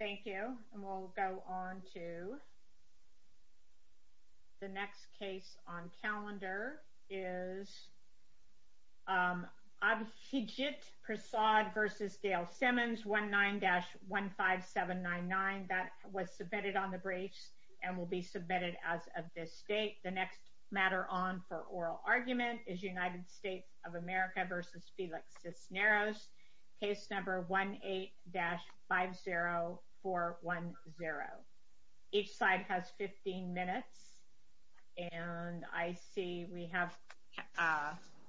Thank you, and we'll go on to the next case on calendar is Abhijit Prasad v. Gail Simmons, 1-9-15799. That was submitted on the briefs and will be submitted as of this date. The next matter on for oral argument is United States of America v. Felix Cisneros, case number 18-50410. Each side has 15 minutes, and I see we have,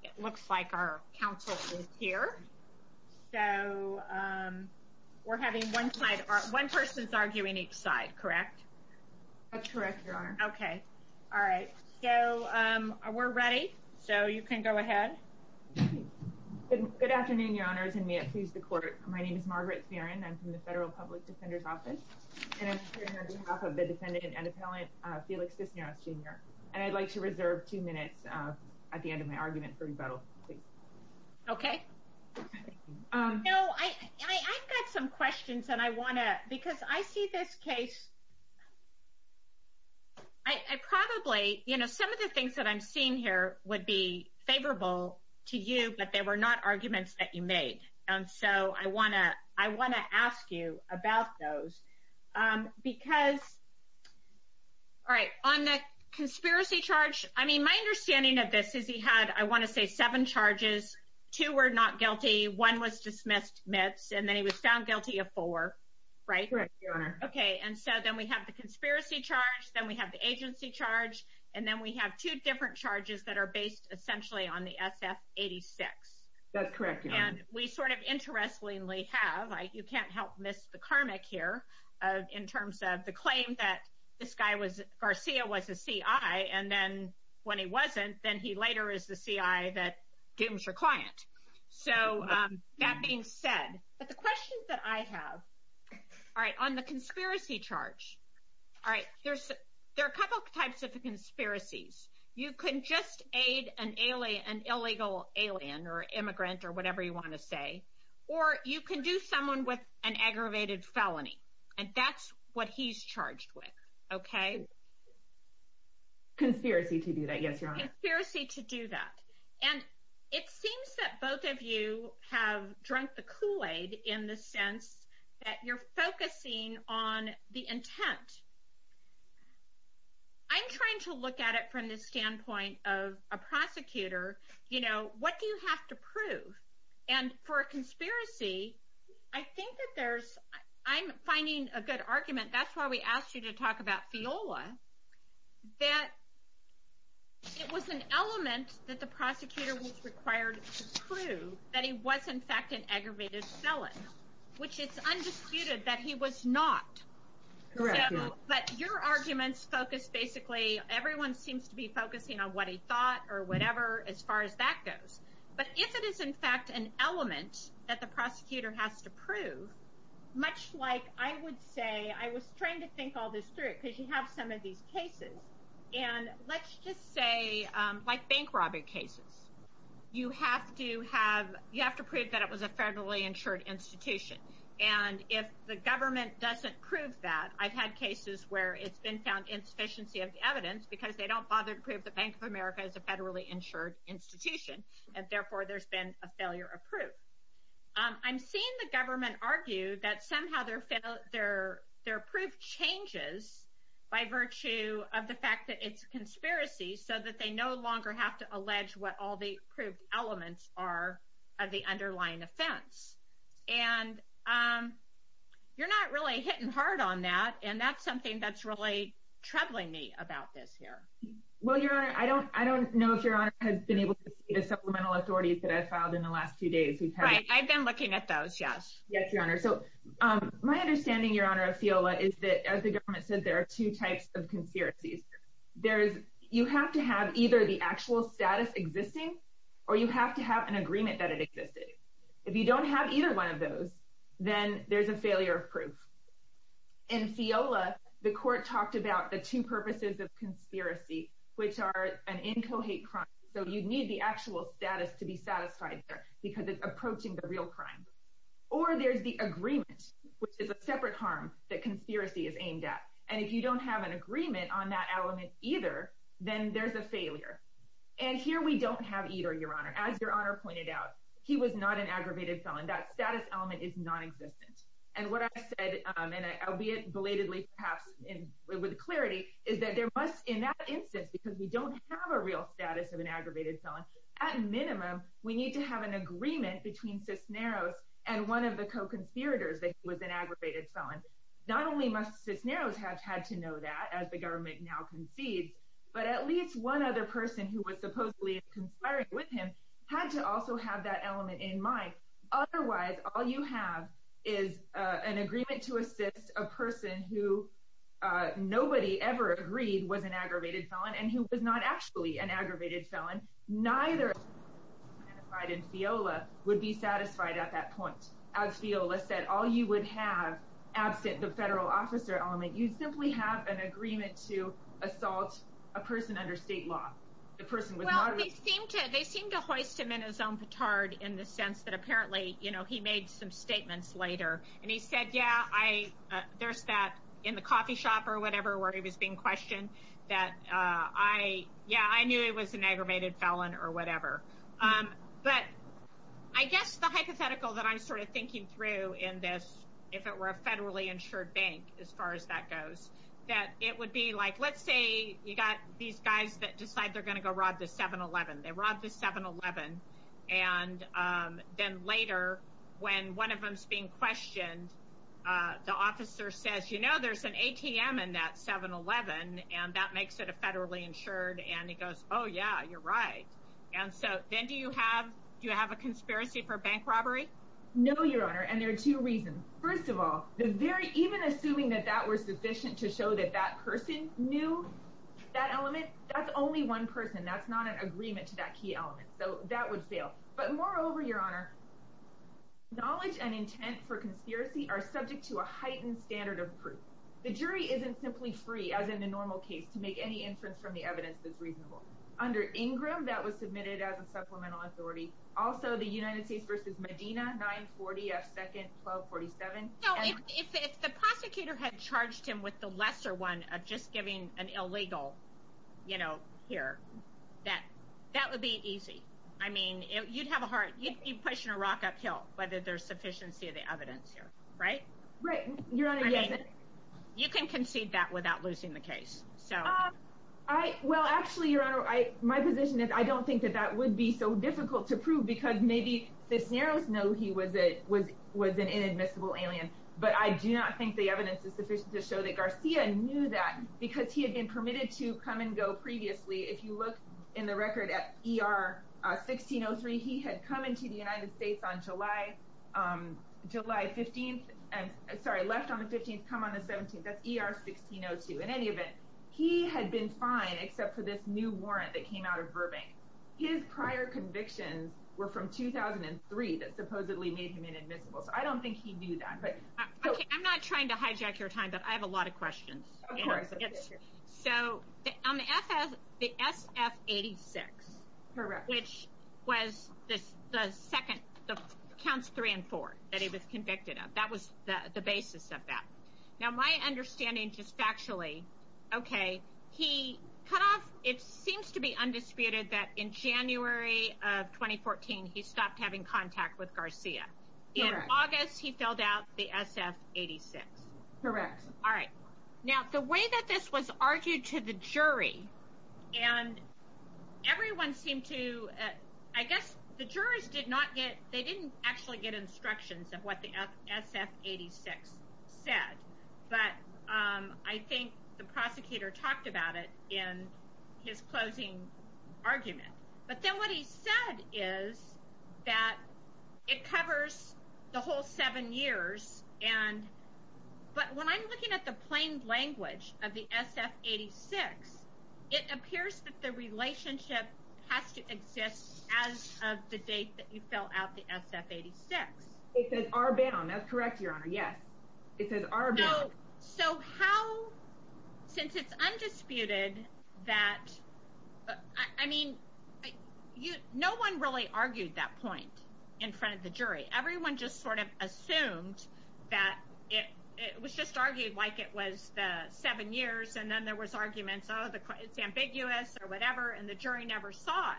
it looks like our counsel is here, so we're having one side, one person's arguing each side, correct? That's correct, Your Honor. Okay, all right, so we're ready, so you can go ahead. Good afternoon, Your Honors, and may it please the Court, my name is Margaret Theron, I'm from the Federal Public Defender's Office, and I'm here on behalf of the defendant and appellant Felix Cisneros, Jr., and I'd like to reserve two minutes at the end of my argument for rebuttal, please. Okay. No, I've got some questions, and I want to, because I see this case, I probably, you know, some of the things that I'm seeing here would be favorable to you, but they were not arguments that you made, and so I want to ask you about those, because, all right, on the conspiracy charge, I mean, my understanding of this is he had, I want to say, seven charges, two were not guilty, one was dismissed, and then he was found guilty of four, right? Correct, Your Honor. Okay, and so then we have the conspiracy charge, then we have the agency charge, and then we have two different charges that are based essentially on the SF-86. That's correct, Your Honor. And we sort of interestingly have, you can't help miss the karmic here, in terms of the claim that this guy was, Garcia was a CI, and then when he wasn't, then he later is the CI that gave him his client, so that being said, but the questions that I have, all right, on the conspiracy charge, all right, there are a couple types of conspiracies. You can just aid an illegal alien, or immigrant, or whatever you want to say, or you can do someone with an aggravated felony, and that's what he's charged with, okay? Conspiracy to do that, yes, Your Honor. Conspiracy to do that, and it seems that both of you have drunk the Kool-Aid in the sense that you're focusing on the intent. I'm trying to look at it from the standpoint of a prosecutor, you know, what do you have to prove? And for a conspiracy, I think that there's, I'm finding a good argument, that's why we asked you to talk about FIOLA, that it was an element that the prosecutor was required to prove that he was, in fact, an aggravated felon, which it's undisputed that he was not. Correct, Your Honor. So, but your arguments focus basically, everyone seems to be focusing on what he thought, or whatever, as far as that goes, but if it is, in fact, an element that the prosecutor has to prove, much like I would say, I was trying to think all this through, because you have some of these cases, and let's just say, like bank robbing cases. You have to have, you have to prove that it was a federally insured institution, and if the government doesn't prove that, I've had cases where it's been found insufficiency of evidence, because they don't bother to prove the Bank of America is a federally insured institution, and therefore there's been a failure of proof. I'm seeing the government argue that somehow their proof changes by virtue of the fact that it's a conspiracy, so that they no longer have to allege what all the proved elements are of the underlying offense, and you're not really hitting hard on that, and that's something that's really troubling me about this here. Well, Your Honor, I don't know if Your Honor has been able to see the supplemental authorities that I've filed in the last few days. Right. I've been looking at those, yes. Yes, Your Honor. So, my understanding, Your Honor, of FIOLA is that, as the government said, there are two types of conspiracies. You have to have either the actual status existing, or you have to have an agreement that it existed. If you don't have either one of those, then there's a failure of proof. In FIOLA, the court talked about the two purposes of conspiracy, which are an incohate crime, so you'd need the actual status to be satisfied there, because it's approaching the real crime. Or there's the agreement, which is a separate harm that conspiracy is aimed at, and if you don't have an agreement on that element either, then there's a failure, and here we don't have either, Your Honor. As Your Honor pointed out, he was not an aggravated felon. That status element is nonexistent, and what I've said, and I'll be belatedly, perhaps, with clarity, is that there must, in that instance, because we don't have a real status of an aggravated felon, at minimum, we need to have an agreement between Cisneros and one of the co-conspirators that he was an aggravated felon. Not only must Cisneros have had to know that, as the government now concedes, but at least one other person who was supposedly conspiring with him had to also have that element in mind. Otherwise, all you have is an agreement to assist a person who nobody ever agreed was an aggravated felon, and who was not actually an aggravated felon, neither would be satisfied at that point. As Fiola said, all you would have, absent the federal officer element, you'd simply have an agreement to assault a person under state law. The person was not- Well, they seemed to hoist him in his own petard in the sense that apparently, you know, he made some statements later, and he said, yeah, I, there's that, in the coffee shop or whatever, where he was being questioned, that I, yeah, I knew he was an aggravated felon or whatever. But I guess the hypothetical that I'm sort of thinking through in this, if it were a federally insured bank, as far as that goes, that it would be like, let's say you got these guys that decide they're going to go rob the 7-Eleven, they rob the 7-Eleven, and then later, when one of them's being questioned, the officer says, you know, there's an ATM in that 7-Eleven, and that makes it a federally insured, and he goes, oh, yeah, you're right. And so, then do you have, do you have a conspiracy for bank robbery? No, Your Honor, and there are two reasons. First of all, the very, even assuming that that were sufficient to show that that person knew that element, that's only one person, that's not an agreement to that key element, so that would fail. But moreover, Your Honor, knowledge and intent for conspiracy are subject to a heightened standard of proof. The jury isn't simply free, as in the normal case, to make any inference from the evidence that's reasonable. Under Ingram, that was submitted as a supplemental authority. Also, the United States v. Medina, 940 F. 2nd, 1247. No, if the prosecutor had charged him with the lesser one of just giving an illegal, you know, here, that, that would be easy. I mean, you'd have a hard, you'd be pushing a rock uphill, whether there's sufficiency of the evidence here. Right? Right, Your Honor, yes. I mean, you can concede that without losing the case. So. I, well, actually, Your Honor, I, my position is I don't think that that would be so difficult to prove, because maybe Cisneros knew he was a, was, was an inadmissible alien, but I do not think the evidence is sufficient to show that Garcia knew that, because he had been 1603. He had come into the United States on July, July 15th, and, sorry, left on the 15th, come on the 17th. That's ER 1602. In any event, he had been fine, except for this new warrant that came out of Burbank. His prior convictions were from 2003 that supposedly made him inadmissible. So I don't think he knew that, but. I'm not trying to hijack your time, but I have a lot of questions. Of course. So, on the SF 86. Correct. Which was the second, the counts three and four that he was convicted of. That was the basis of that. Now, my understanding, just factually, okay, he cut off, it seems to be undisputed that in January of 2014, he stopped having contact with Garcia. Correct. In August, he filled out the SF 86. Correct. All right. Now, the way that this was argued to the jury, and everyone seemed to, I guess the jurors did not get, they didn't actually get instructions of what the SF 86 said, but I think the prosecutor talked about it in his closing argument. But then what he said is that it covers the whole seven years, and, but when I'm looking at the plain language of the SF 86, it appears that the relationship has to exist as of the date that you fill out the SF 86. It says R bound. That's correct, Your Honor. Yes. It says R bound. So how, since it's undisputed that, I mean, no one really argued that point in front of the jury. Everyone just sort of assumed that it was just argued like it was the seven years, and then there was arguments, oh, it's ambiguous or whatever, and the jury never saw it.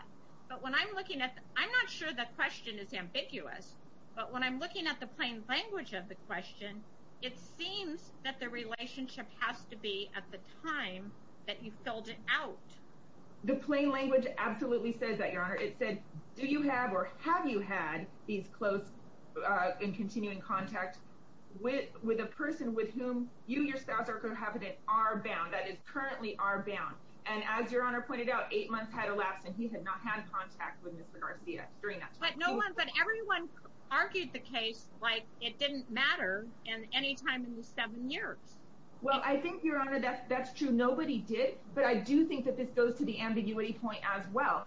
But when I'm looking at, I'm not sure the question is ambiguous, but when I'm looking at the plain language of the question, it seems that the relationship has to be at the time that you filled it out. The plain language absolutely says that, Your Honor. It said, do you have or have you had these close and continuing contact with a person with whom you, your spouse or cohabitant, are bound, that is currently R bound. And as Your Honor pointed out, eight months had elapsed and he had not had contact with Mr. Garcia during that time. But no one, but everyone argued the case like it didn't matter in any time in the seven years. Well, I think, Your Honor, that's true. Nobody did, but I do think that this goes to the ambiguity point as well.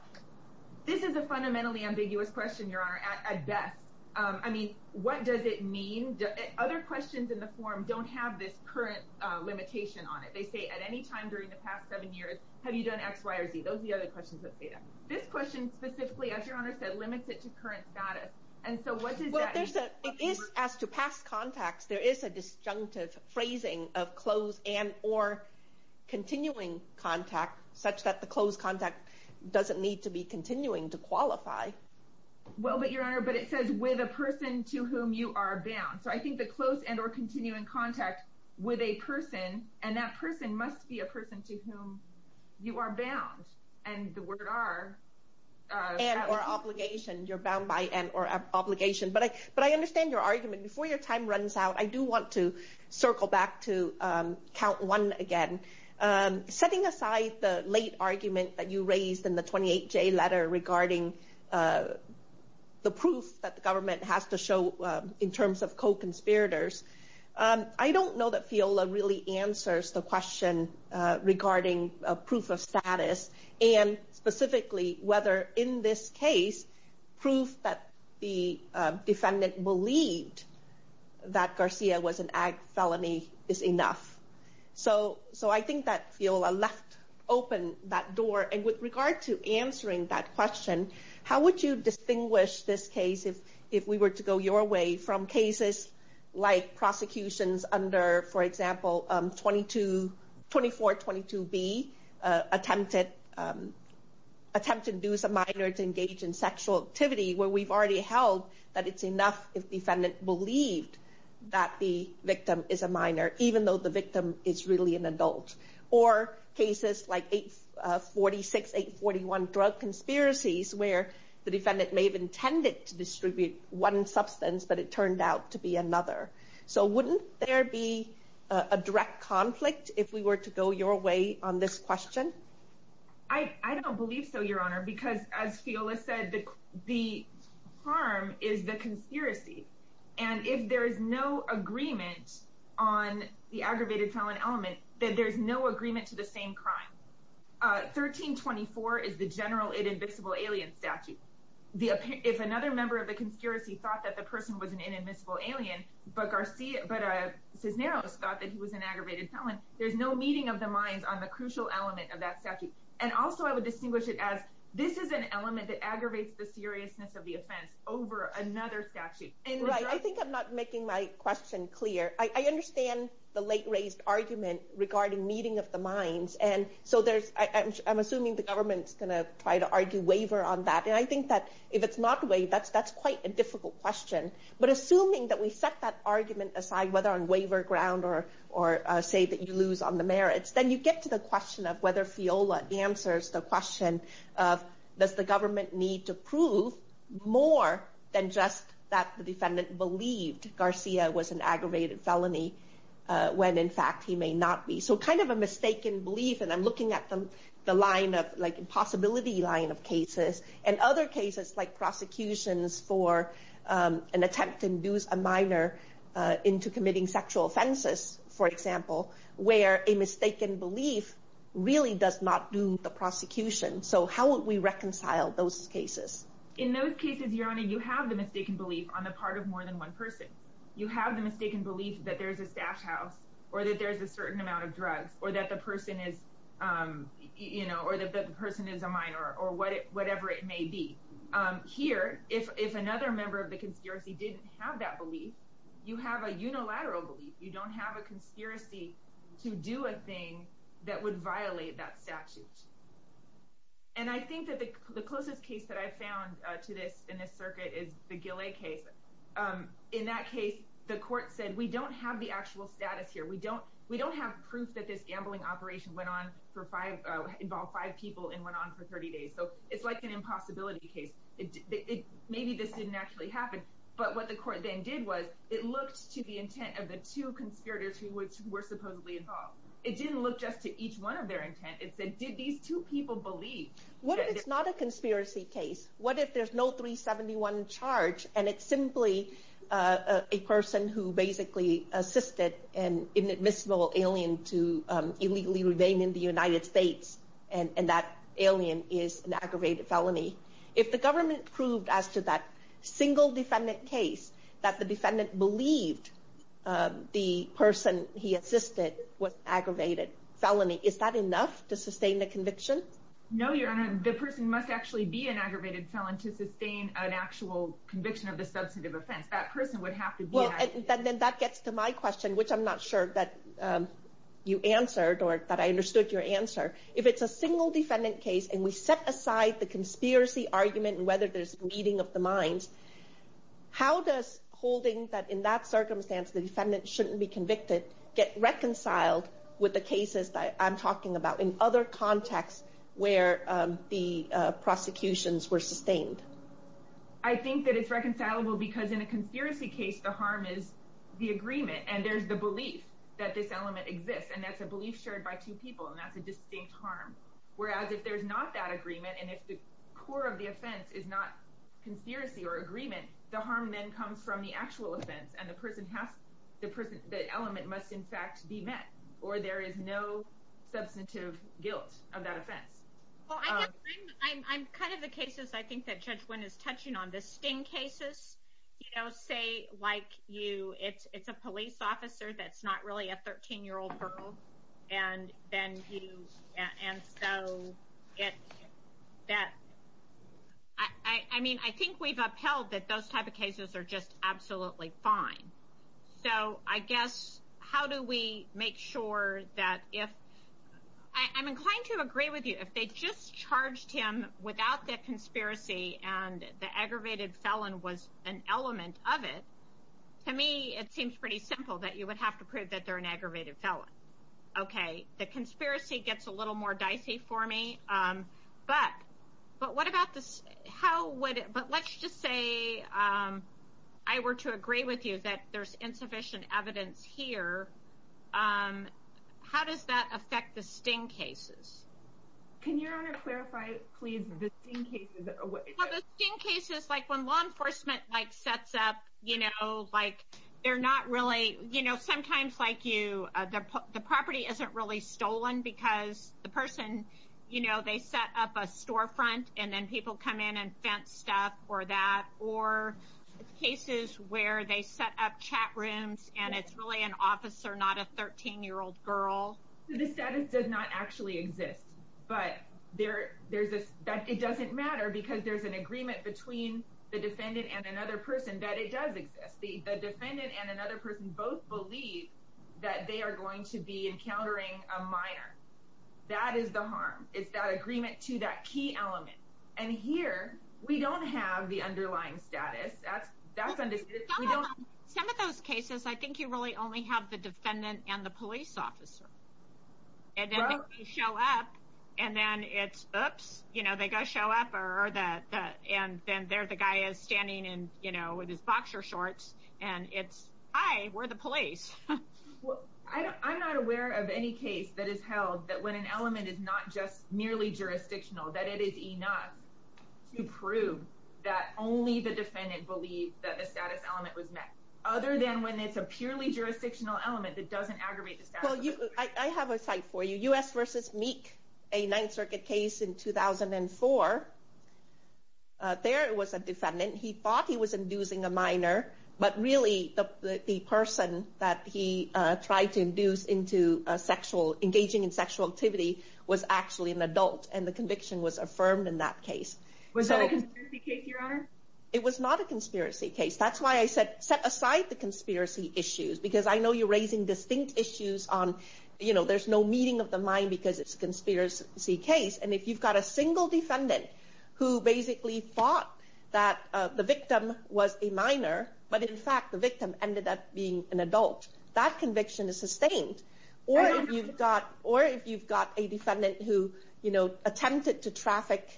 This is a fundamentally ambiguous question, Your Honor, at best. I mean, what does it mean? Other questions in the form don't have this current limitation on it. They say, at any time during the past seven years, have you done X, Y, or Z? Those are the other questions that say that. This question specifically, as Your Honor said, limits it to current status. And so what does that mean? It is as to past contacts. There is a disjunctive phrasing of close and or continuing contact, such that the close contact doesn't need to be continuing to qualify. Well, but Your Honor, but it says with a person to whom you are bound. So I think the close and or continuing contact with a person, and that person must be a person to whom you are bound. And the word R... And or obligation. You're bound by and or obligation. But I understand your argument. Before your time runs out, I do want to circle back to count one again. Setting aside the late argument that you raised in the 28-J letter regarding the proof that the government has to show in terms of co-conspirators, I don't know that FIOLA really answers the question regarding proof of status. And specifically, whether in this case, proof that the defendant believed that Garcia was an ag felony is enough. So I think that FIOLA left open that door. And with regard to answering that question, how would you distinguish this case if we were to go your way from cases like prosecutions under, for example, 2422B attempted attempted to induce a minor to engage in sexual activity where we've already held that it's enough if defendant believed that the victim is a minor, even though the victim is really an adult. Or cases like 846, 841 drug conspiracies where the defendant may have intended to distribute one substance, but it turned out to be another. So wouldn't there be a direct conflict if we were to go your way on this question? I don't believe so, Your Honor, because as FIOLA said, the harm is the conspiracy. And if there is no agreement on the aggravated felon element, then there's no agreement to the same crime. 1324 is the general inadmissible alien statute. If another member of the conspiracy thought that the person was an inadmissible alien, but Cisneros thought that he was an aggravated felon, there's no meeting of the minds on the crucial element of that statute. And also I would distinguish it as this is an element that aggravates the seriousness of the offense over another statute. Right. I think I'm not making my question clear. I understand the late raised argument regarding meeting of the minds. And so there's I'm assuming the government's going to try to argue waiver on that. And I think that if it's not the way that's that's quite a difficult question. But assuming that we set that argument aside, whether on waiver ground or or say that you answers the question of does the government need to prove more than just that the defendant believed Garcia was an aggravated felony when in fact he may not be so kind of a mistaken belief. And I'm looking at the line of like impossibility line of cases and other cases like prosecutions for an attempt to induce a minor into committing sexual offenses, for example, where a mistaken belief really does not do the prosecution. So how would we reconcile those cases? In those cases, your honor, you have the mistaken belief on the part of more than one person. You have the mistaken belief that there is a stash house or that there is a certain amount of drugs or that the person is, you know, or that the person is a minor or whatever it may be here. If another member of the conspiracy didn't have that belief, you have a unilateral belief. You don't have a conspiracy to do a thing that would violate that statute. And I think that the closest case that I found to this in this circuit is the Gillette case. In that case, the court said we don't have the actual status here. We don't have proof that this gambling operation went on for five, involved five people and went on for 30 days. So it's like an impossibility case. Maybe this didn't actually happen. But what the court then did was it looked to the intent of the two conspirators who were supposedly involved. It didn't look just to each one of their intent. It said, did these two people believe? What if it's not a conspiracy case? What if there's no 371 charge and it's simply a person who basically assisted an inadmissible alien to illegally remain in the United States? And that alien is an aggravated felony. If the government proved as to that single defendant case that the defendant believed the person he assisted was aggravated felony, is that enough to sustain the conviction? No, Your Honor. The person must actually be an aggravated felon to sustain an actual conviction of the substantive offense. That person would have to be aggravated. Then that gets to my question, which I'm not sure that you answered or that I understood your answer. If it's a single defendant case and we set aside the conspiracy argument and whether there's bleeding of the minds, how does holding that in that circumstance the defendant shouldn't be convicted get reconciled with the cases that I'm talking about in other contexts where the prosecutions were sustained? I think that it's reconcilable because in a conspiracy case the harm is the agreement and there's the belief that this element exists. That's a belief shared by two people and that's a distinct harm. Whereas if there's not that agreement and if the core of the offense is not conspiracy or agreement, the harm then comes from the actual offense and the element must in fact be met. Or there is no substantive guilt of that offense. I'm kind of the cases I think that Judge Wynn is touching on. The sting cases, say like you, it's a police officer that's not really a 13-year-old girl. I mean, I think we've upheld that those type of cases are just absolutely fine. So I guess how do we make sure that if... I'm inclined to agree with you. If they just charged him without the conspiracy and the aggravated felon was an element of it, to me it seems pretty simple that you would have to prove that they're an aggravated felon. Okay, the conspiracy gets a little more dicey for me. But let's just say I were to agree with you that there's insufficient evidence here. How does that affect the sting cases? Can you clarify, please, the sting cases? Well, the sting cases, like when law enforcement sets up, they're not really... Sometimes like you, the property isn't really stolen because the person, they set up a storefront and then people come in and fence stuff or that. Or cases where they set up chat rooms and it's really an officer, not a 13-year-old girl. The status does not actually exist. But there's this... It doesn't matter because there's an agreement between the defendant and another person that it does exist. The defendant and another person both believe that they are going to be encountering a minor. That is the harm. It's that agreement to that key element. And here, we don't have the underlying status. That's understood. Some of those cases, I think you really only have the defendant and the police officer. And then they show up and then it's, oops. They go show up and then there the guy is standing in his boxer shorts and it's, hi, we're the police. I'm not aware of any case that is held that when an element is not just merely jurisdictional, that it is enough to prove that only the defendant believed that the status element was met. Other than when it's a purely jurisdictional element that doesn't aggravate the status. I have a cite for you. U.S. v. Meek, a Ninth Circuit case in 2004. There was a defendant. He thought he was inducing a minor, but really the person that he tried to induce into engaging in sexual activity was actually an adult and the conviction was affirmed in that case. Was that a conspiracy case, Your Honor? It was not a conspiracy case. That's why I said set aside the conspiracy issues because I know you're raising distinct issues on, you know, there's no meeting of the mind because it's a conspiracy case and if you've got a single defendant who basically thought that the victim was a minor but in fact the victim ended up being an adult. That conviction is sustained. Or if you've got a defendant who, you know, attempted to traffic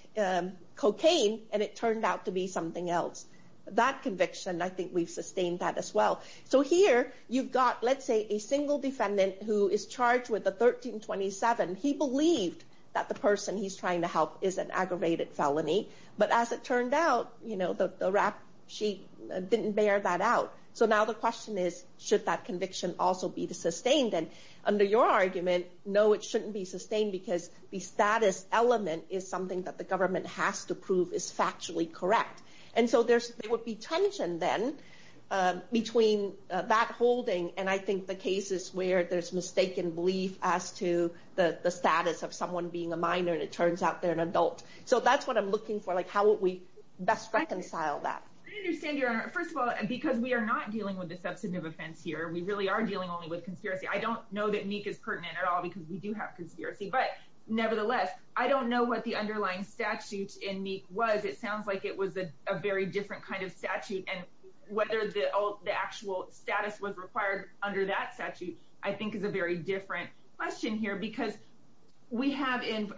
cocaine and it turned out to be something else. That conviction, I think we've sustained that as well. So here you've got, let's say, a single defendant who is charged with the 1327. He believed that the person he's trying to help is an aggravated felony but as it turned out, you know, the rap sheet didn't bear that out. So now the question is should that conviction also be sustained? And under your argument, no it shouldn't be sustained because the status element is something that the government has to prove is factually correct. And so there would be tension then between that holding and I think the cases where there's mistaken belief as to the status of someone being a minor and it turns out they're an adult. So that's what I'm looking for, like how would we best reconcile that? First of all, because we are not dealing with a substantive offense here, we really are dealing only with conspiracy. I don't know that NEEC is pertinent at all because we do have conspiracy. But nevertheless, I don't know what the underlying statute in NEEC was. It sounds like it was a very different kind of statute and whether the actual status was required under that statute, I think is a very different question here because we have in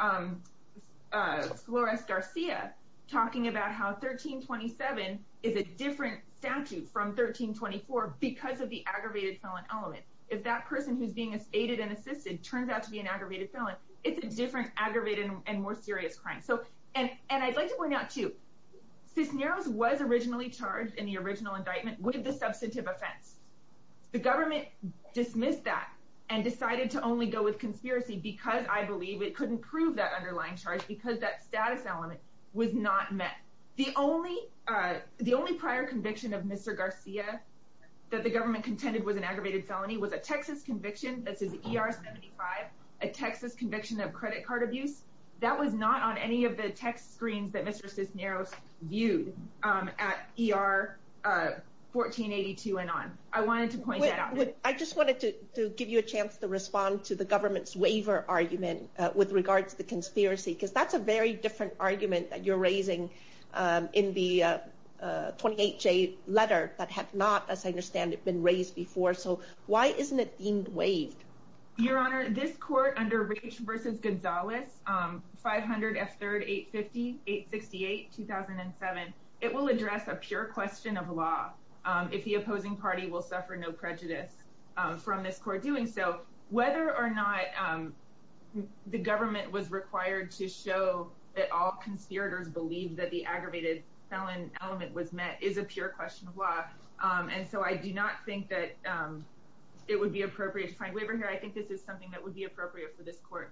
Flores Garcia talking about how 1327 is a different statute from 1324 because of the aggravated felon element. If that person who's being aided and assisted turns out to be an aggravated felon, it's a different aggravated and more serious crime. And I'd like to point out too Cisneros was originally charged in the original indictment with the substantive offense. The government dismissed that and decided to only go with conspiracy because I believe it couldn't prove that underlying charge because that status element was not met. The only prior conviction of Mr. Garcia that the government contended was an aggravated felony was a Texas conviction, that's his ER-75, a Texas conviction of credit card abuse. That was not on any of the text screens that Mr. Cisneros viewed at ER-1482 and on. I wanted to point that out. I just wanted to give you a chance to respond to the government's waiver argument with regards to the conspiracy because that's a very different argument that you're raising in the 28J letter that had not, as I understand it, been raised before. So why isn't it deemed waived? Your Honor, this court under Rich v. Gonzalez 500 F3rd 850 868 2007 it will address a pure question of law if the opposing party will suffer no prejudice from this court doing so. Whether or not the government was required to show that all conspirators believed that the aggravated felony element was met is a pure question of law and so I do not think that it would be appropriate to find waiver here. I think this is something that would be appropriate for this court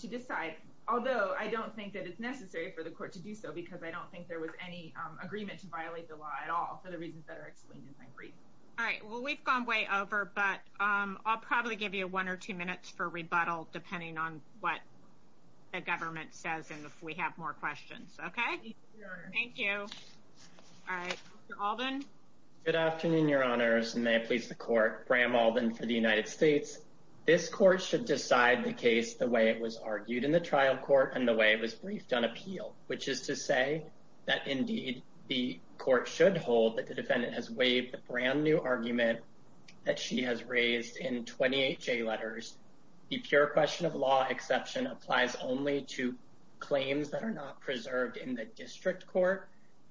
to decide. Although, I don't think that it's necessary for the court to do so because I don't think there was any agreement to violate the law at all for the reasons that are explained in my brief. All right. Well, we've gone way over but I'll probably give you one or two minutes for rebuttal depending on what the government says and if we have more questions. Okay? Thank you. All right. Mr. Alden? Good afternoon, Your Honors, and may I please the court. Graham Alden for the United States. This court should decide the case the way it was argued in the trial court and the way it was briefed on appeal which is to say that indeed the court should hold that the defendant has waived the brand new argument that she has raised in 28 J letters. The pure question of law exception applies only to claims that are not preserved in the district court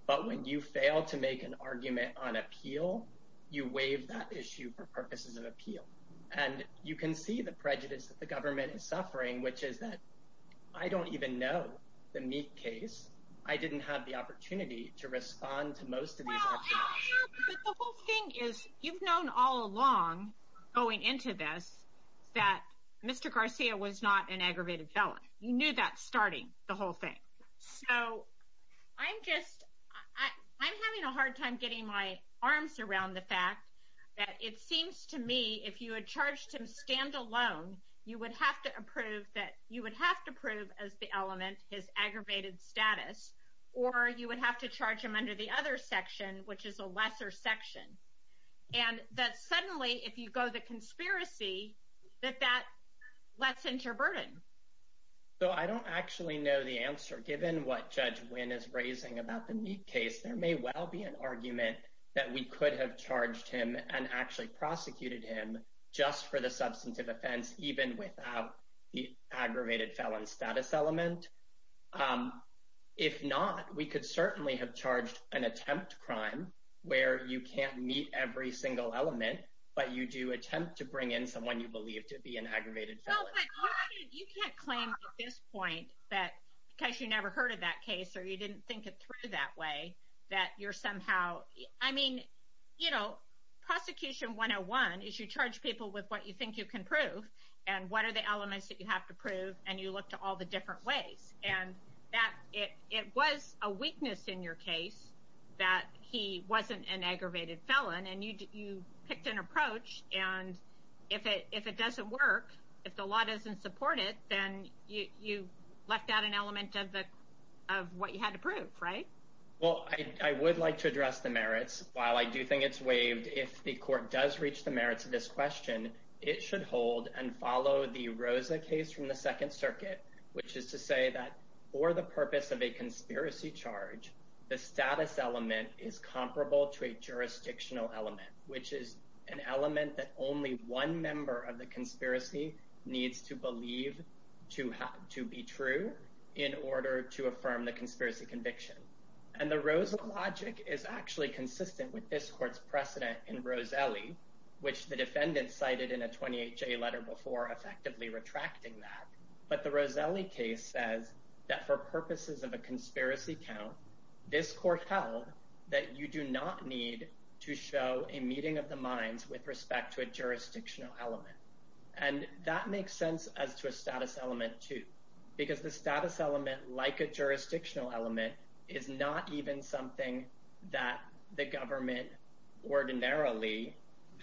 but when you fail to make an argument on appeal you waive that issue for purposes of appeal and you can see the prejudice that the government is suffering which is that I don't even know the Meek case. I didn't have the opportunity to respond to most of these arguments. But the whole thing is you've known all along going into this that Mr. Garcia was not an aggravated felon. You knew that starting the whole thing. So I'm just, I'm having a hard time getting my arms around the fact that it seems to me if you had charged him standalone you would have to approve that, you would have to approve as the element his aggravated status or you would have to charge him under the other section which is a lesser section. And that suddenly if you go the conspiracy that that lets enter burden. So I don't actually know the answer given what Judge Wynn is raising about the Meek case. There may well be an argument that we could have charged him and actually prosecuted him just for the substantive offense even without the aggravated felon status element. If not, we could certainly have charged an attempt crime where you can't meet every single element but you do attempt to bring in someone you believe to be an aggravated felon. You can't claim at this point that because you never heard of that case or you didn't think it through that way that you're somehow, I mean you know, prosecution 101 is you charge people with what you think you can prove and what are the elements that you have to prove and you look to all the different ways and that it was a weakness in your case that he wasn't an aggravated felon and you picked an approach and if it doesn't work if the law doesn't support it then you left out an element of what you had to prove, right? Well, I would like to address the merits. While I do think it's waived, if the court does reach the merits of this question, it should hold and follow the Rosa case from the Second Circuit, which is to say that for the purpose of a conspiracy charge, the status element is comparable to a jurisdictional element, which is an element that only one member of the conspiracy needs to believe to be true in order to affirm the conspiracy conviction and the Rosa logic is actually consistent with this court's precedent in Roselli, which the defendant cited in a 28J letter before effectively retracting that but the Roselli case says that for purposes of a conspiracy count, this court held that you do not need to show a meeting of the minds with respect to a jurisdictional element and that makes sense as to a status element too because the status element, like a jurisdictional element, is not even something that the government ordinarily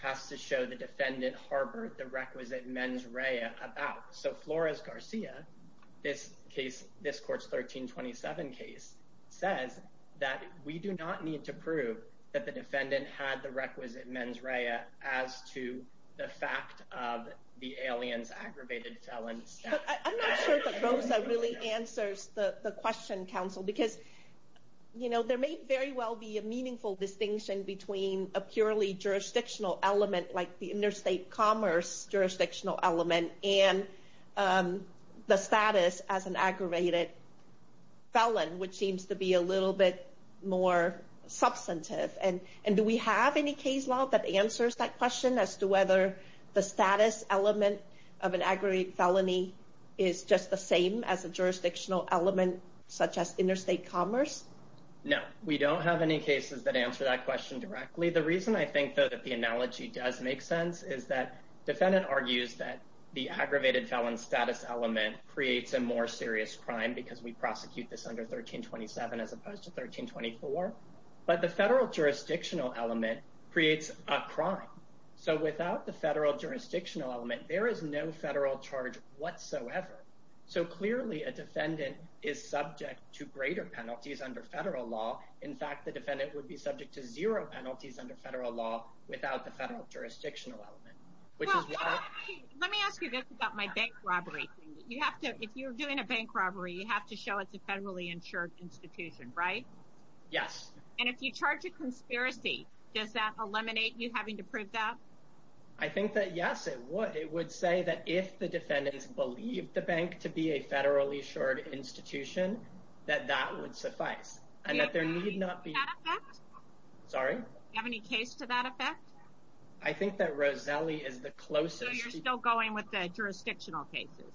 has to show the defendant harbored the requisite mens rea about. So Flores Garcia, this court's 1327 case says that we do not need to prove that the defendant had the requisite mens rea as to the fact of the alien's aggravated felon status. I'm not sure that Rosa really answers the question, counsel, because there may very well be a meaningful distinction between a purely jurisdictional element like the interstate commerce jurisdictional element and the status as an aggravated felon, which seems to be a little bit more substantive and do we have any case law that answers that question as to whether the status element of an aggravated felony is just the same as a jurisdictional element such as interstate commerce? No, we don't have any cases that answer that question directly. The reason I think, though, that the analogy does make sense is that the defendant argues that the aggravated felon status element creates a more serious crime because we prosecute this under 1327 as opposed to 1324, but the federal jurisdictional element creates a crime. Without the federal jurisdictional element, there is no federal charge whatsoever. Clearly, a defendant is subject to greater penalties under federal law. In fact, the defendant would be subject to zero penalties under federal law without the federal jurisdictional element. Let me ask you this about my bank robbery. If you're doing a bank robbery, you have to show it's a federally insured institution, right? Yes. And if you charge a conspiracy, does that eliminate you having to prove that? I think that yes, it would. It would say that if the defendants believe the bank to be a federally insured institution, that that would suffice. Do you have any case to that effect? Sorry? Do you have any case to that effect? I think that Roselli is the closest... So you're still going with the jurisdictional cases?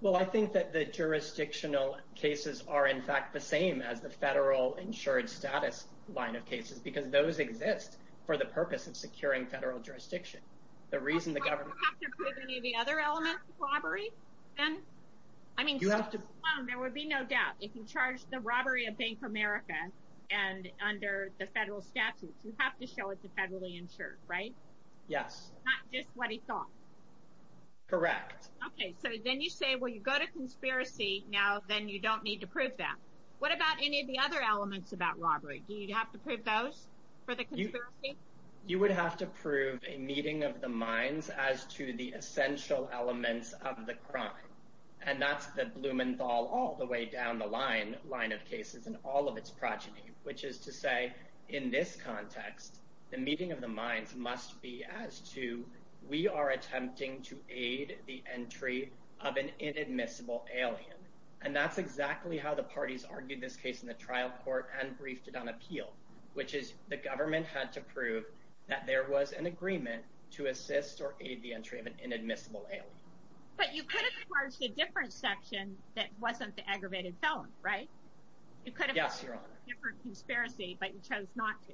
Well, I think that the jurisdictional cases are, in fact, the same as the federal insured status line of cases, because those exist for the purpose of securing federal jurisdiction. The reason the government... Do you have to prove any of the other elements? Robbery? There would be no doubt. If you charge the robbery of Bank America and under the federal statutes, you have to show it's a federally insured, right? Yes. Not just what he thought. Correct. Okay, so then you say when you go to conspiracy, now then you don't need to prove that. What about any of the other elements about robbery? Do you have to prove those for the conspiracy? You would have to prove a meeting of the minds as to the essential elements of the crime, and that's the Blumenthal all the way down the line of cases in all of its progeny, which is to say, in this context, the meeting of the minds must be as to we are attempting to aid the entry of an inadmissible alien, and that's exactly how the parties argued this case in the trial court and briefed it on appeal, which is the government had to prove that there was an agreement to assist or aid the entry of an inadmissible alien. But you could have charged a different section that wasn't the aggravated felon, right? Yes, Your Honor. But you chose not to.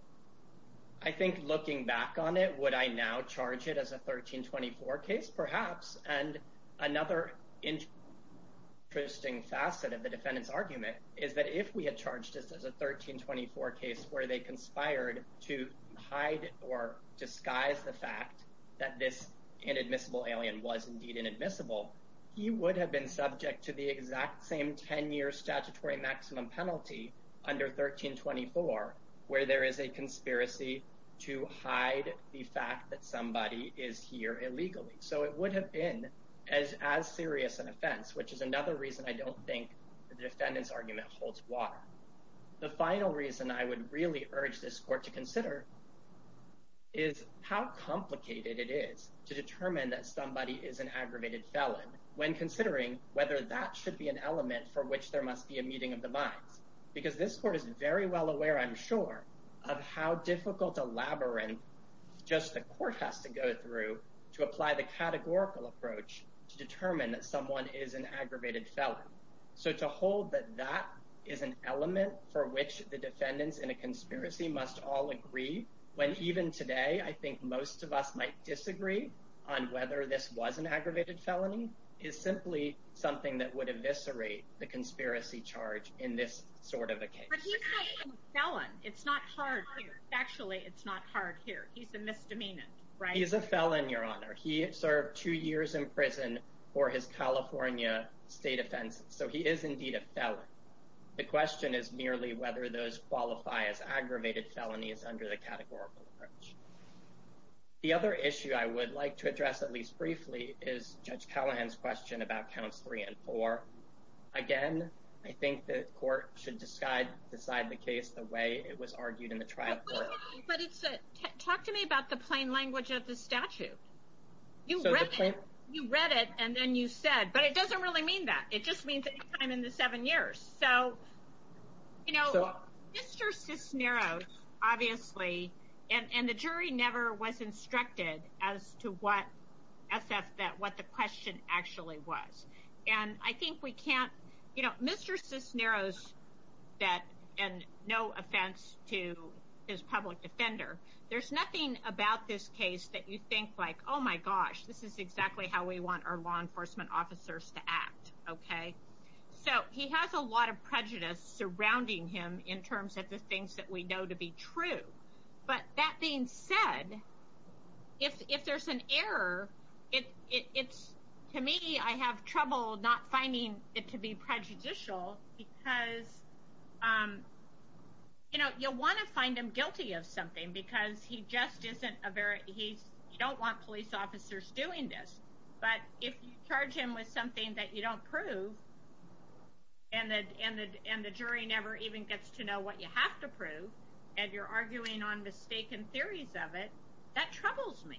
I think looking back on it, would I now charge it as a 1324 case? Perhaps. And another interesting facet of the defendant's argument is that if we had charged this as a 1324 case where they conspired to hide or disguise the fact that this inadmissible alien was indeed inadmissible, he would have been subject to the exact same 10-year statutory maximum penalty under 1324 where there is a conspiracy to hide the fact that somebody is here illegally. So it would have been as serious an offense, which is another reason I don't think the defendant's argument holds water. The final reason I would really urge this court to consider is how complicated it is to determine that somebody is an aggravated felon when considering whether that should be an element for which there must be a meeting of the minds. Because this court is very well aware, I'm sure, of how difficult a labyrinth just the court has to go through to apply the categorical approach to determine that someone is an aggravated felon. So to hold that that is an element for which the defendants in a conspiracy must all agree, when even today I think most of us might disagree on whether this was an aggravated felony, is simply something that would eviscerate the conspiracy charge in this sort of a case. It's not hard here. He's a misdemeanor, right? He's a felon, Your Honor. He served two years in prison for his California state offenses. So he is indeed a felon. The question is merely whether those qualify as aggravated felonies under the categorical approach. The other issue I would like to address at least briefly is Judge Callahan's question about counts three and four. Again, I think the court should decide the case the way it was argued in the trial Talk to me about the plain language of the statute. You read it and then you said, but it doesn't really mean that. It just means that he's been in the seven years. So you know, Mr. Cisneros obviously, and the jury never was instructed as to what the question actually was. And I think we can't you know, Mr. Cisneros and no public defender. There's nothing about this case that you think like oh my gosh, this is exactly how we want our law enforcement officers to act. Okay. So he has a lot of prejudice surrounding him in terms of the things that we know to be true. But that being said, if there's an error, it's to me I have trouble not finding it to be prejudicial because you know, you'll want to find him guilty of something because he just isn't a very, he's you don't want police officers doing this, but if you charge him with something that you don't prove and the jury never even gets to know what you have to prove and you're arguing on mistaken theories of it that troubles me.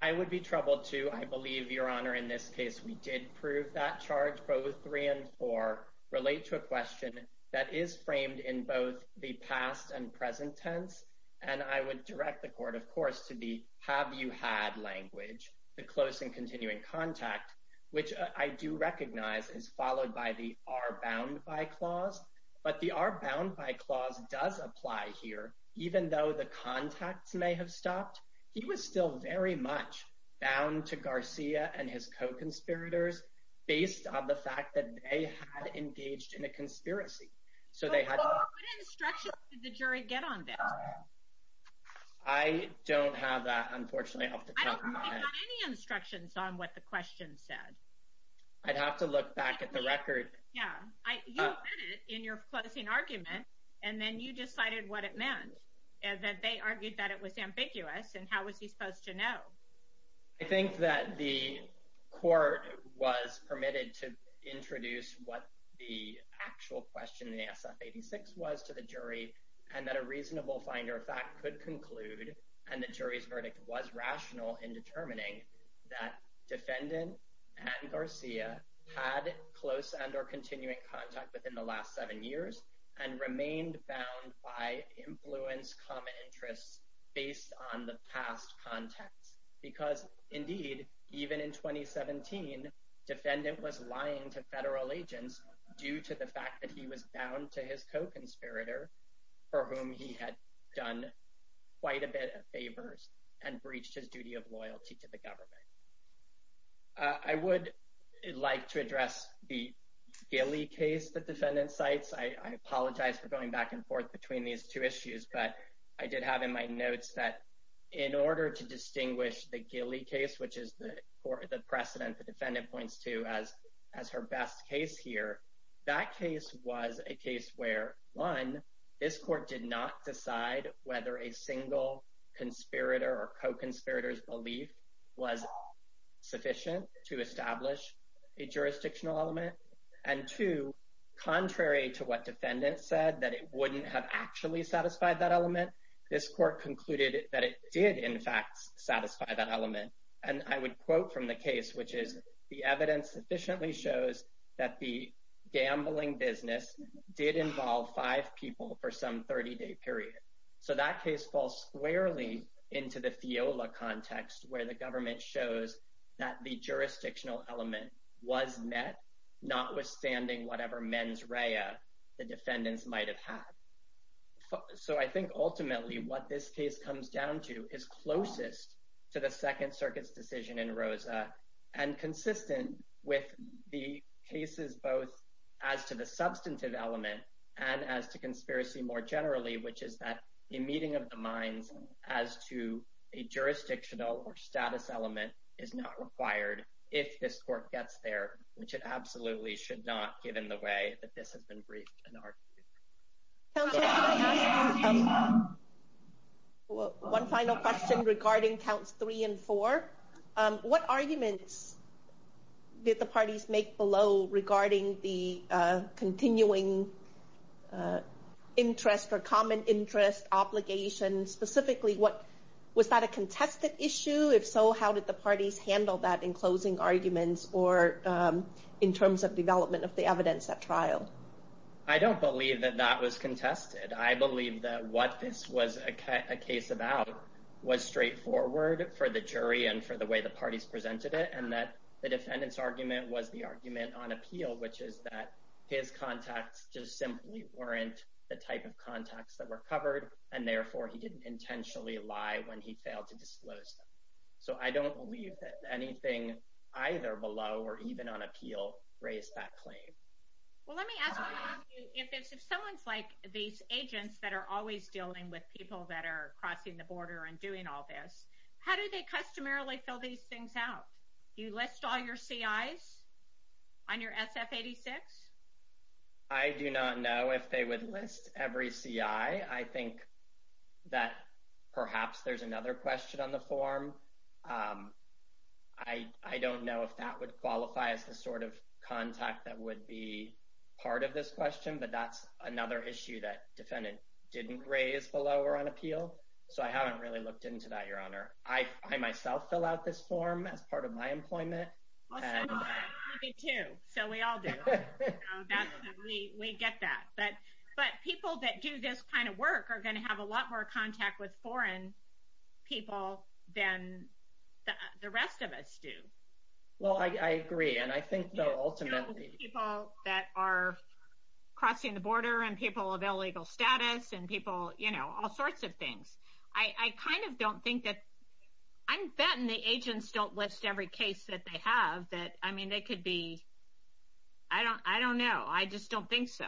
I would be troubled too. I believe your honor in this case, we did prove that charge both three and four relate to a question that is framed in both the past and present tense. And I would direct the court, of course, to the have you had language, the close and continuing contact, which I do recognize is followed by the are bound by clause, but the are bound by clause does apply here. Even though the contacts may have stopped, he was still very much bound to Garcia and his co-conspirators based on the fact that they had engaged in a conspiracy. What instructions did the jury get on this? I don't have that unfortunately off the top of my head. I don't think they got any instructions on what the question said. I'd have to look back at the record. Yeah, you read it in your closing argument and then you decided what it meant. They argued that it was ambiguous and how was he supposed to know? I think that the jury was able to introduce what the actual question in the SF-86 was to the jury and that a reasonable finder of fact could conclude and the jury's verdict was rational in determining that defendant and Garcia had close and or continuing contact within the last seven years and remained bound by influence, common interests based on the past contacts because indeed, even in 2017, defendant was lying to federal agents due to the fact that he was bound to his co-conspirator for whom he had done quite a bit of favors and breached his duty of loyalty to the government. I would like to address the Gilley case that defendant cites. I apologize for going back and forth between these two issues, but I did have in my notes that in order to distinguish the Gilley case, which is the precedent the defendant points to as her best case here, that case was a case where one, this court did not decide whether a single conspirator or co-conspirator's belief was sufficient to establish a jurisdictional element and two, contrary to what defendant said, that it wouldn't have actually satisfied that element, this court concluded that it did in fact satisfy that element. And I would quote from the case, which is, the evidence sufficiently shows that the gambling business did involve five people for some 30-day period. So that case falls squarely into the FIOLA context where the government shows that the jurisdictional element was met, not withstanding whatever mens rea the defendants might have had. So I think ultimately what this case comes down to is closest to the Second Circuit's decision in Rosa and consistent with the cases both as to the substantive element and as to conspiracy more generally, which is that a meeting of the minds as to a jurisdictional or status element is not required if this court gets there, which it absolutely should not given the way that this has been briefed and argued. One final question regarding counts three and four. What arguments did the parties make below regarding the continuing interest or common interest obligation? Specifically, was that a contested issue? If so, how did the parties handle that in closing arguments or in terms of development of the evidence at trial? I don't believe that that was contested. I believe that what this was a case about was straightforward for the jury and for the way the parties presented it, and that the defendant's argument was the argument on appeal, which is that his contacts just simply weren't the type of contacts that were covered, and therefore he didn't intentionally lie when he failed to disclose them. So I don't believe that anything either below or even on appeal raised that claim. Let me ask you, if someone's like these agents that are always dealing with people that are crossing the border and doing all this, how do they customarily fill these things out? Do you list all your CIs on your SF-86? I do not know if they would list every CI. I think that perhaps there's another question on the form. I don't know if that would qualify as the sort of contact that would be part of this question, but that's another issue that defendant didn't raise below or on appeal, so I haven't really looked into that, Your Honor. I myself fill out this form as part of my employment. I do too, so we all do. We get that. But people that do this kind of work are going to have a lot more contact with foreign people than the people that are crossing the border. Well, I agree, and I think that ultimately... People that are crossing the border and people of illegal status and people... all sorts of things. I kind of don't think that... I'm betting the agents don't list every case that they have. They could be... I don't know. I just don't think so.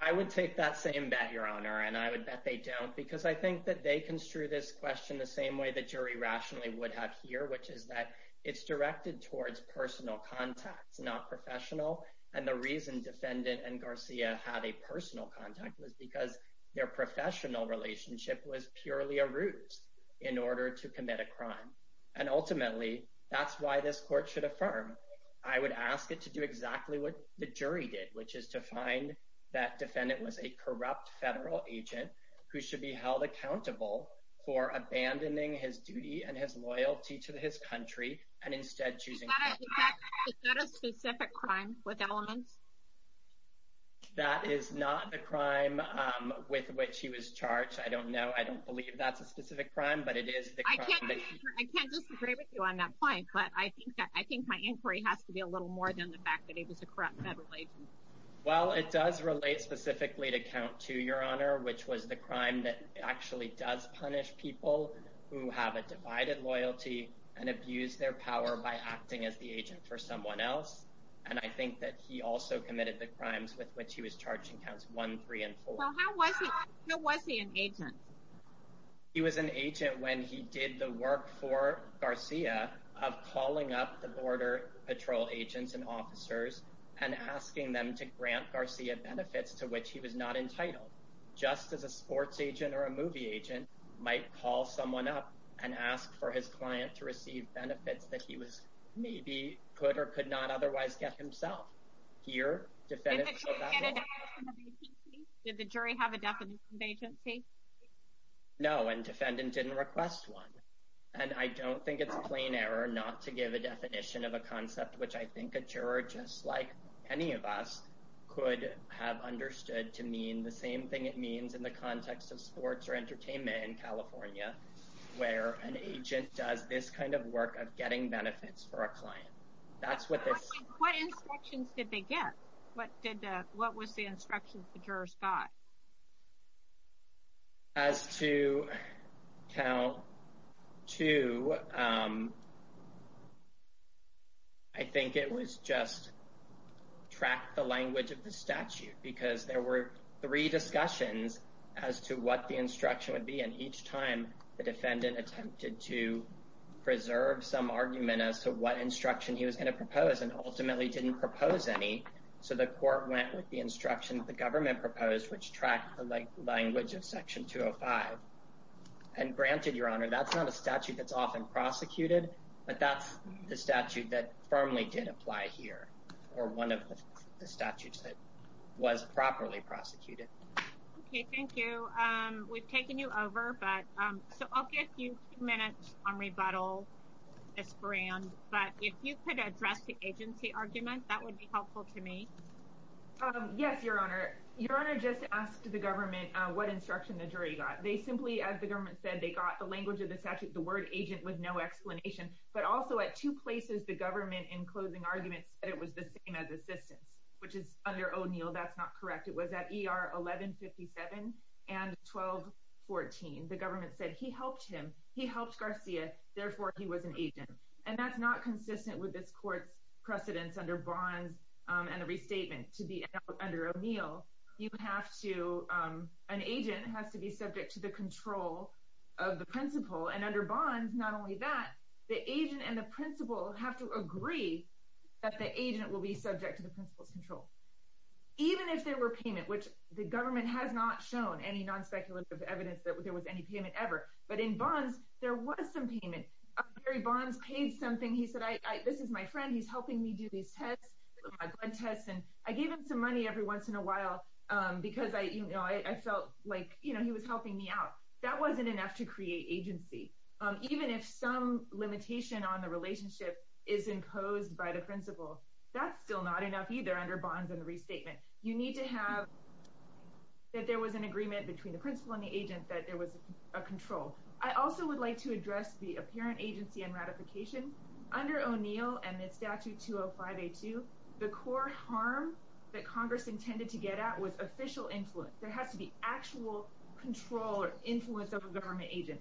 I would take that same bet, Your Honor, and I would bet they don't, because I think that they construe this question the same way the jury rationally would have here, which is that it's directed towards personal contacts, not professional. And the reason defendant and Garcia had a personal contact was because their professional relationship was purely a ruse in order to commit a crime. And ultimately, that's why this court should affirm. I would ask it to do exactly what the jury did, which is to find that defendant was a corrupt federal agent who should be held accountable for abandoning his duty and his loyalty to his country and instead choosing... Is that a specific crime with elements? That is not the crime with which he was charged. I don't know. I don't believe that's a specific crime, but it is the crime that he... I can't disagree with you on that point, but I think my inquiry has to be a little more than the fact that he was a corrupt federal agent. Well, it does relate specifically to Count 2, Your Honor, which was the crime that actually does punish people who have a divided loyalty and abuse their power by acting as the agent for someone else. And I think that he also committed the crimes with which he was charged in Counts 1, 3, and 4. Well, how was he an agent? He was an agent when he did the work for Garcia of calling up the Border Patrol agents and officers and asking them to grant Garcia benefits to which he was not entitled. Just as a sports agent or a movie agent might call someone up and ask for his client to receive benefits that he maybe could or could not otherwise get himself. Here, defendants... Did the jury have a definition of agency? No, and defendants didn't request one. And I don't think it's a plain error not to give a definition of a concept, which I think a juror, just like any of us, could have understood to mean the same thing it means in the context of sports or entertainment in California, where an agent does this kind of work of getting benefits for a client. What instructions did they get? What was the instructions the jurors got? As to Count 2, I think it was just track the language of the statute because there were three discussions as to what the instruction would be. And each time the defendant attempted to preserve some argument as to what instruction he was going to propose and ultimately didn't propose any. So the court went with the instruction the government proposed, which tracked the language of Section 205. And granted, Your Honor, that's not a statute that's often prosecuted, but that's the statute that firmly did apply here, or one of the statutes that was properly prosecuted. Okay, thank you. We've taken you over, but I'll give you two minutes on rebuttal. But if you could address the agency argument, that would be helpful to me. Yes, Your Honor. Your Honor just asked the government what instruction the jury got. They simply, as the government said, they got the language of the statute, the word agent with no explanation. But also at two places, the government in closing arguments said it was the same as assistance, which is under O'Neill. That's not correct. It was at ER 1157 and 1214. The government said he helped him. He helped Garcia, therefore he was an agent. And that's not consistent with this court's precedence under Bonds and the restatement to be under O'Neill. You have to an agent has to be subject to the principal's control of the principal. And under Bonds, not only that, the agent and the principal have to agree that the agent will be subject to the principal's control, even if there were payment, which the government has not shown any non-speculative evidence that there was any payment ever. But in Bonds, there was some payment. Barry Bonds paid something. He said, this is my friend. He's helping me do these tests, blood tests. And I gave him some money every once in a while because I felt like he was helping me out. That wasn't enough to create agency. Even if some limitation on the relationship is imposed by the principal, that's still not enough either under Bonds and the restatement. You need to have that there was an agreement between the principal and the agent that there was a control. I also would like to address the apparent agency and ratification. Under O'Neill and the statute 205A2, the core harm that Congress intended to get at was official influence. There has to be actual control or influence of a government agent.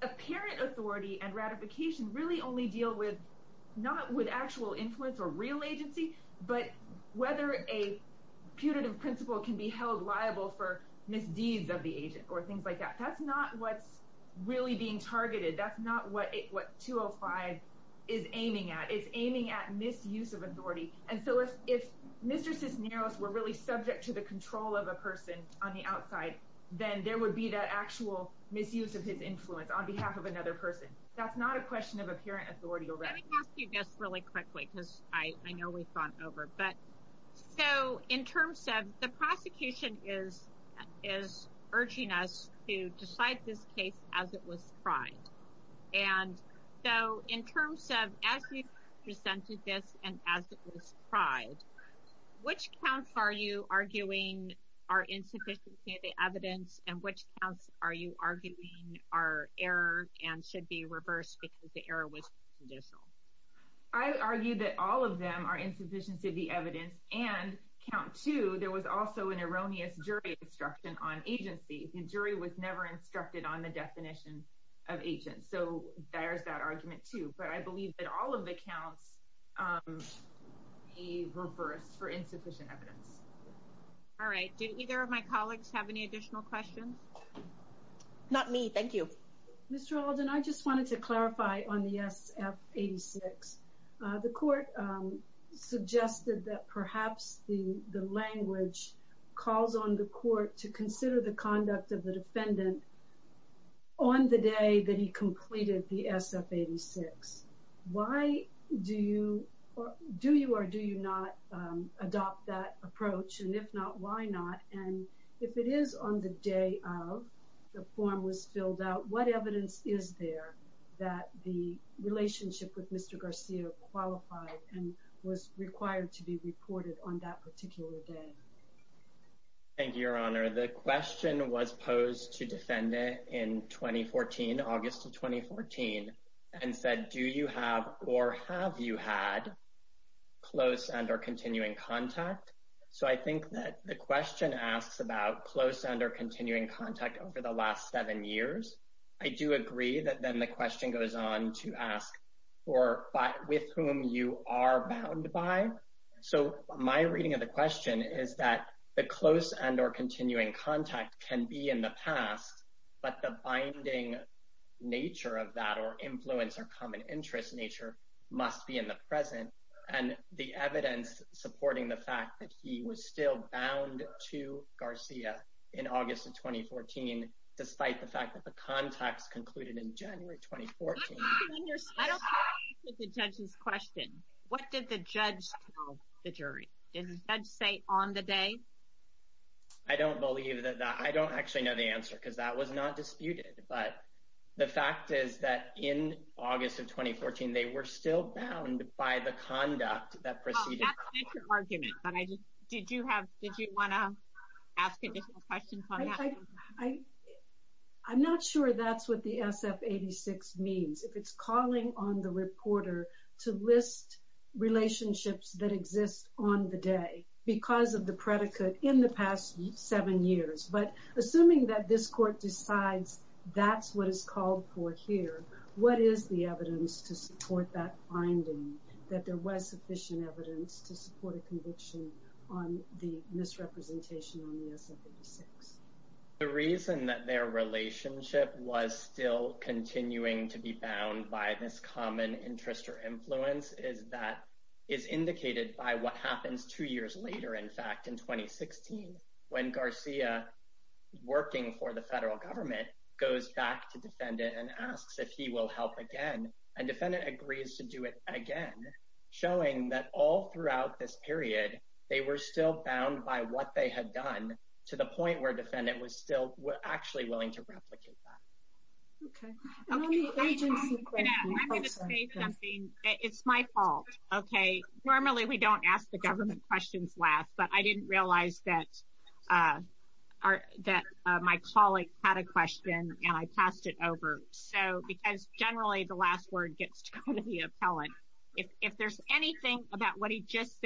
Apparent authority and ratification really only deal with not with actual influence or real agency, but whether a putative principal can be held liable for misdeeds of the agent or things like that. That's not what's really being targeted. That's not what 205 is aiming at. It's aiming at misuse of authority. If Mr. Cisneros were really subject to the control of a person on the outside, then there would be that actual misuse of his influence on behalf of another person. That's not a question of apparent authority or ratification. Let me ask you this really quickly because I know we've gone over. In terms of the prosecution is urging us to decide this case as it was tried. In terms of as you presented this and as it was tried, which counts are you arguing are insufficiency of the evidence and which counts are you arguing are error and should be reversed because the error was judicial? I argue that all of them are insufficiency of the evidence and count two, there was also an erroneous jury instruction on agency. The jury was never instructed on the jury instruction on agency. So there's that argument too. But I believe that all of the counts be reversed for insufficient evidence. All right. Do either of my colleagues have any additional questions? Not me. Thank you. Mr. Alden, I just wanted to clarify on the SF-86. The court suggested that perhaps the language calls on the court to consider the conduct of the defendant on the day that he completed the SF-86. Why do you or do you or do you not adopt that approach and if not, why not? If it is on the day of the form was filled out, what evidence is there that the relationship with Mr. Garcia qualified and was required to be reported on that particular day? Thank you, Your Honor. The question was posed to defendant in 2014, August of 2014, and said, do you have or have you had close and or continuing contact? So I think that the question asks about close and or continuing contact over the last seven years. I do agree that then the question goes on to ask with whom you are bound by. So my reading of the question is that the close and or continuing contact can be in the past, but the binding nature of that or influence or common interest nature must be in the present and the evidence supporting the fact that he was still bound to Garcia in August of 2014 despite the fact that the contacts concluded in January 2014. I don't quite get the judge's question. What did the judge tell the jury? Did the judge say on the day? I don't believe that. I don't actually know the answer because that was not disputed, but the fact is that in August of 2014 they were still bound by the conduct that preceded. Did you want to ask additional questions on that? I'm not sure that's what the SF-86 means. If it's calling on the reporter to list relationships that exist on the day because of the predicate in the past seven years, but assuming that this court decides that's what it's called for here, what is the evidence to support that finding that there was sufficient evidence to support a conviction on the misrepresentation on the SF-86? The reason that their relationship was still continuing to be bound by this common interest or influence is that it's indicated by what happens two years later, in fact, in 2016 when Garcia, working for the federal government, goes back to Defendant and asks if he will help again. And Defendant agrees to do it again, showing that all throughout this period they were still bound by what they had done to the point where Defendant was still actually willing to replicate that. Okay. I'm going to say something. It's my fault, okay? Normally we don't ask the government questions last, but I didn't realize that my colleague had a question and I passed it over. Because generally the last word gets to the appellant. If there's anything about what he just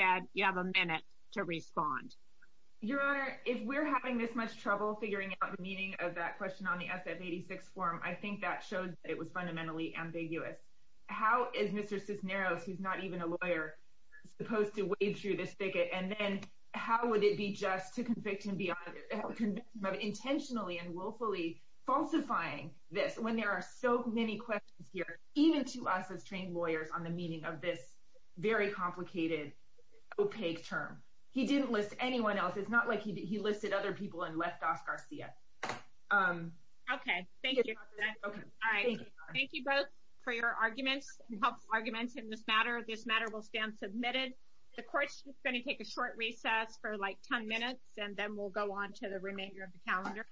Your Honor, if we're having this much trouble figuring out the meaning of that question on the SF-86 form, I think that showed that it was fundamentally ambiguous. How is Mr. Cisneros, who's not even a lawyer, supposed to wade through this thicket? And then how would it be just to convict him of intentionally and willfully falsifying this when there are so many questions here, even to us as trained lawyers on the meaning of this very complicated, opaque term? He didn't list anyone else. It's not like he listed other people and left off Garcia. Okay, thank you. Thank you both for your arguments and helpful arguments in this matter. This matter will stand submitted. The Court's going to take a short recess for like 10 minutes and then we'll go on to the remainder of the calendar.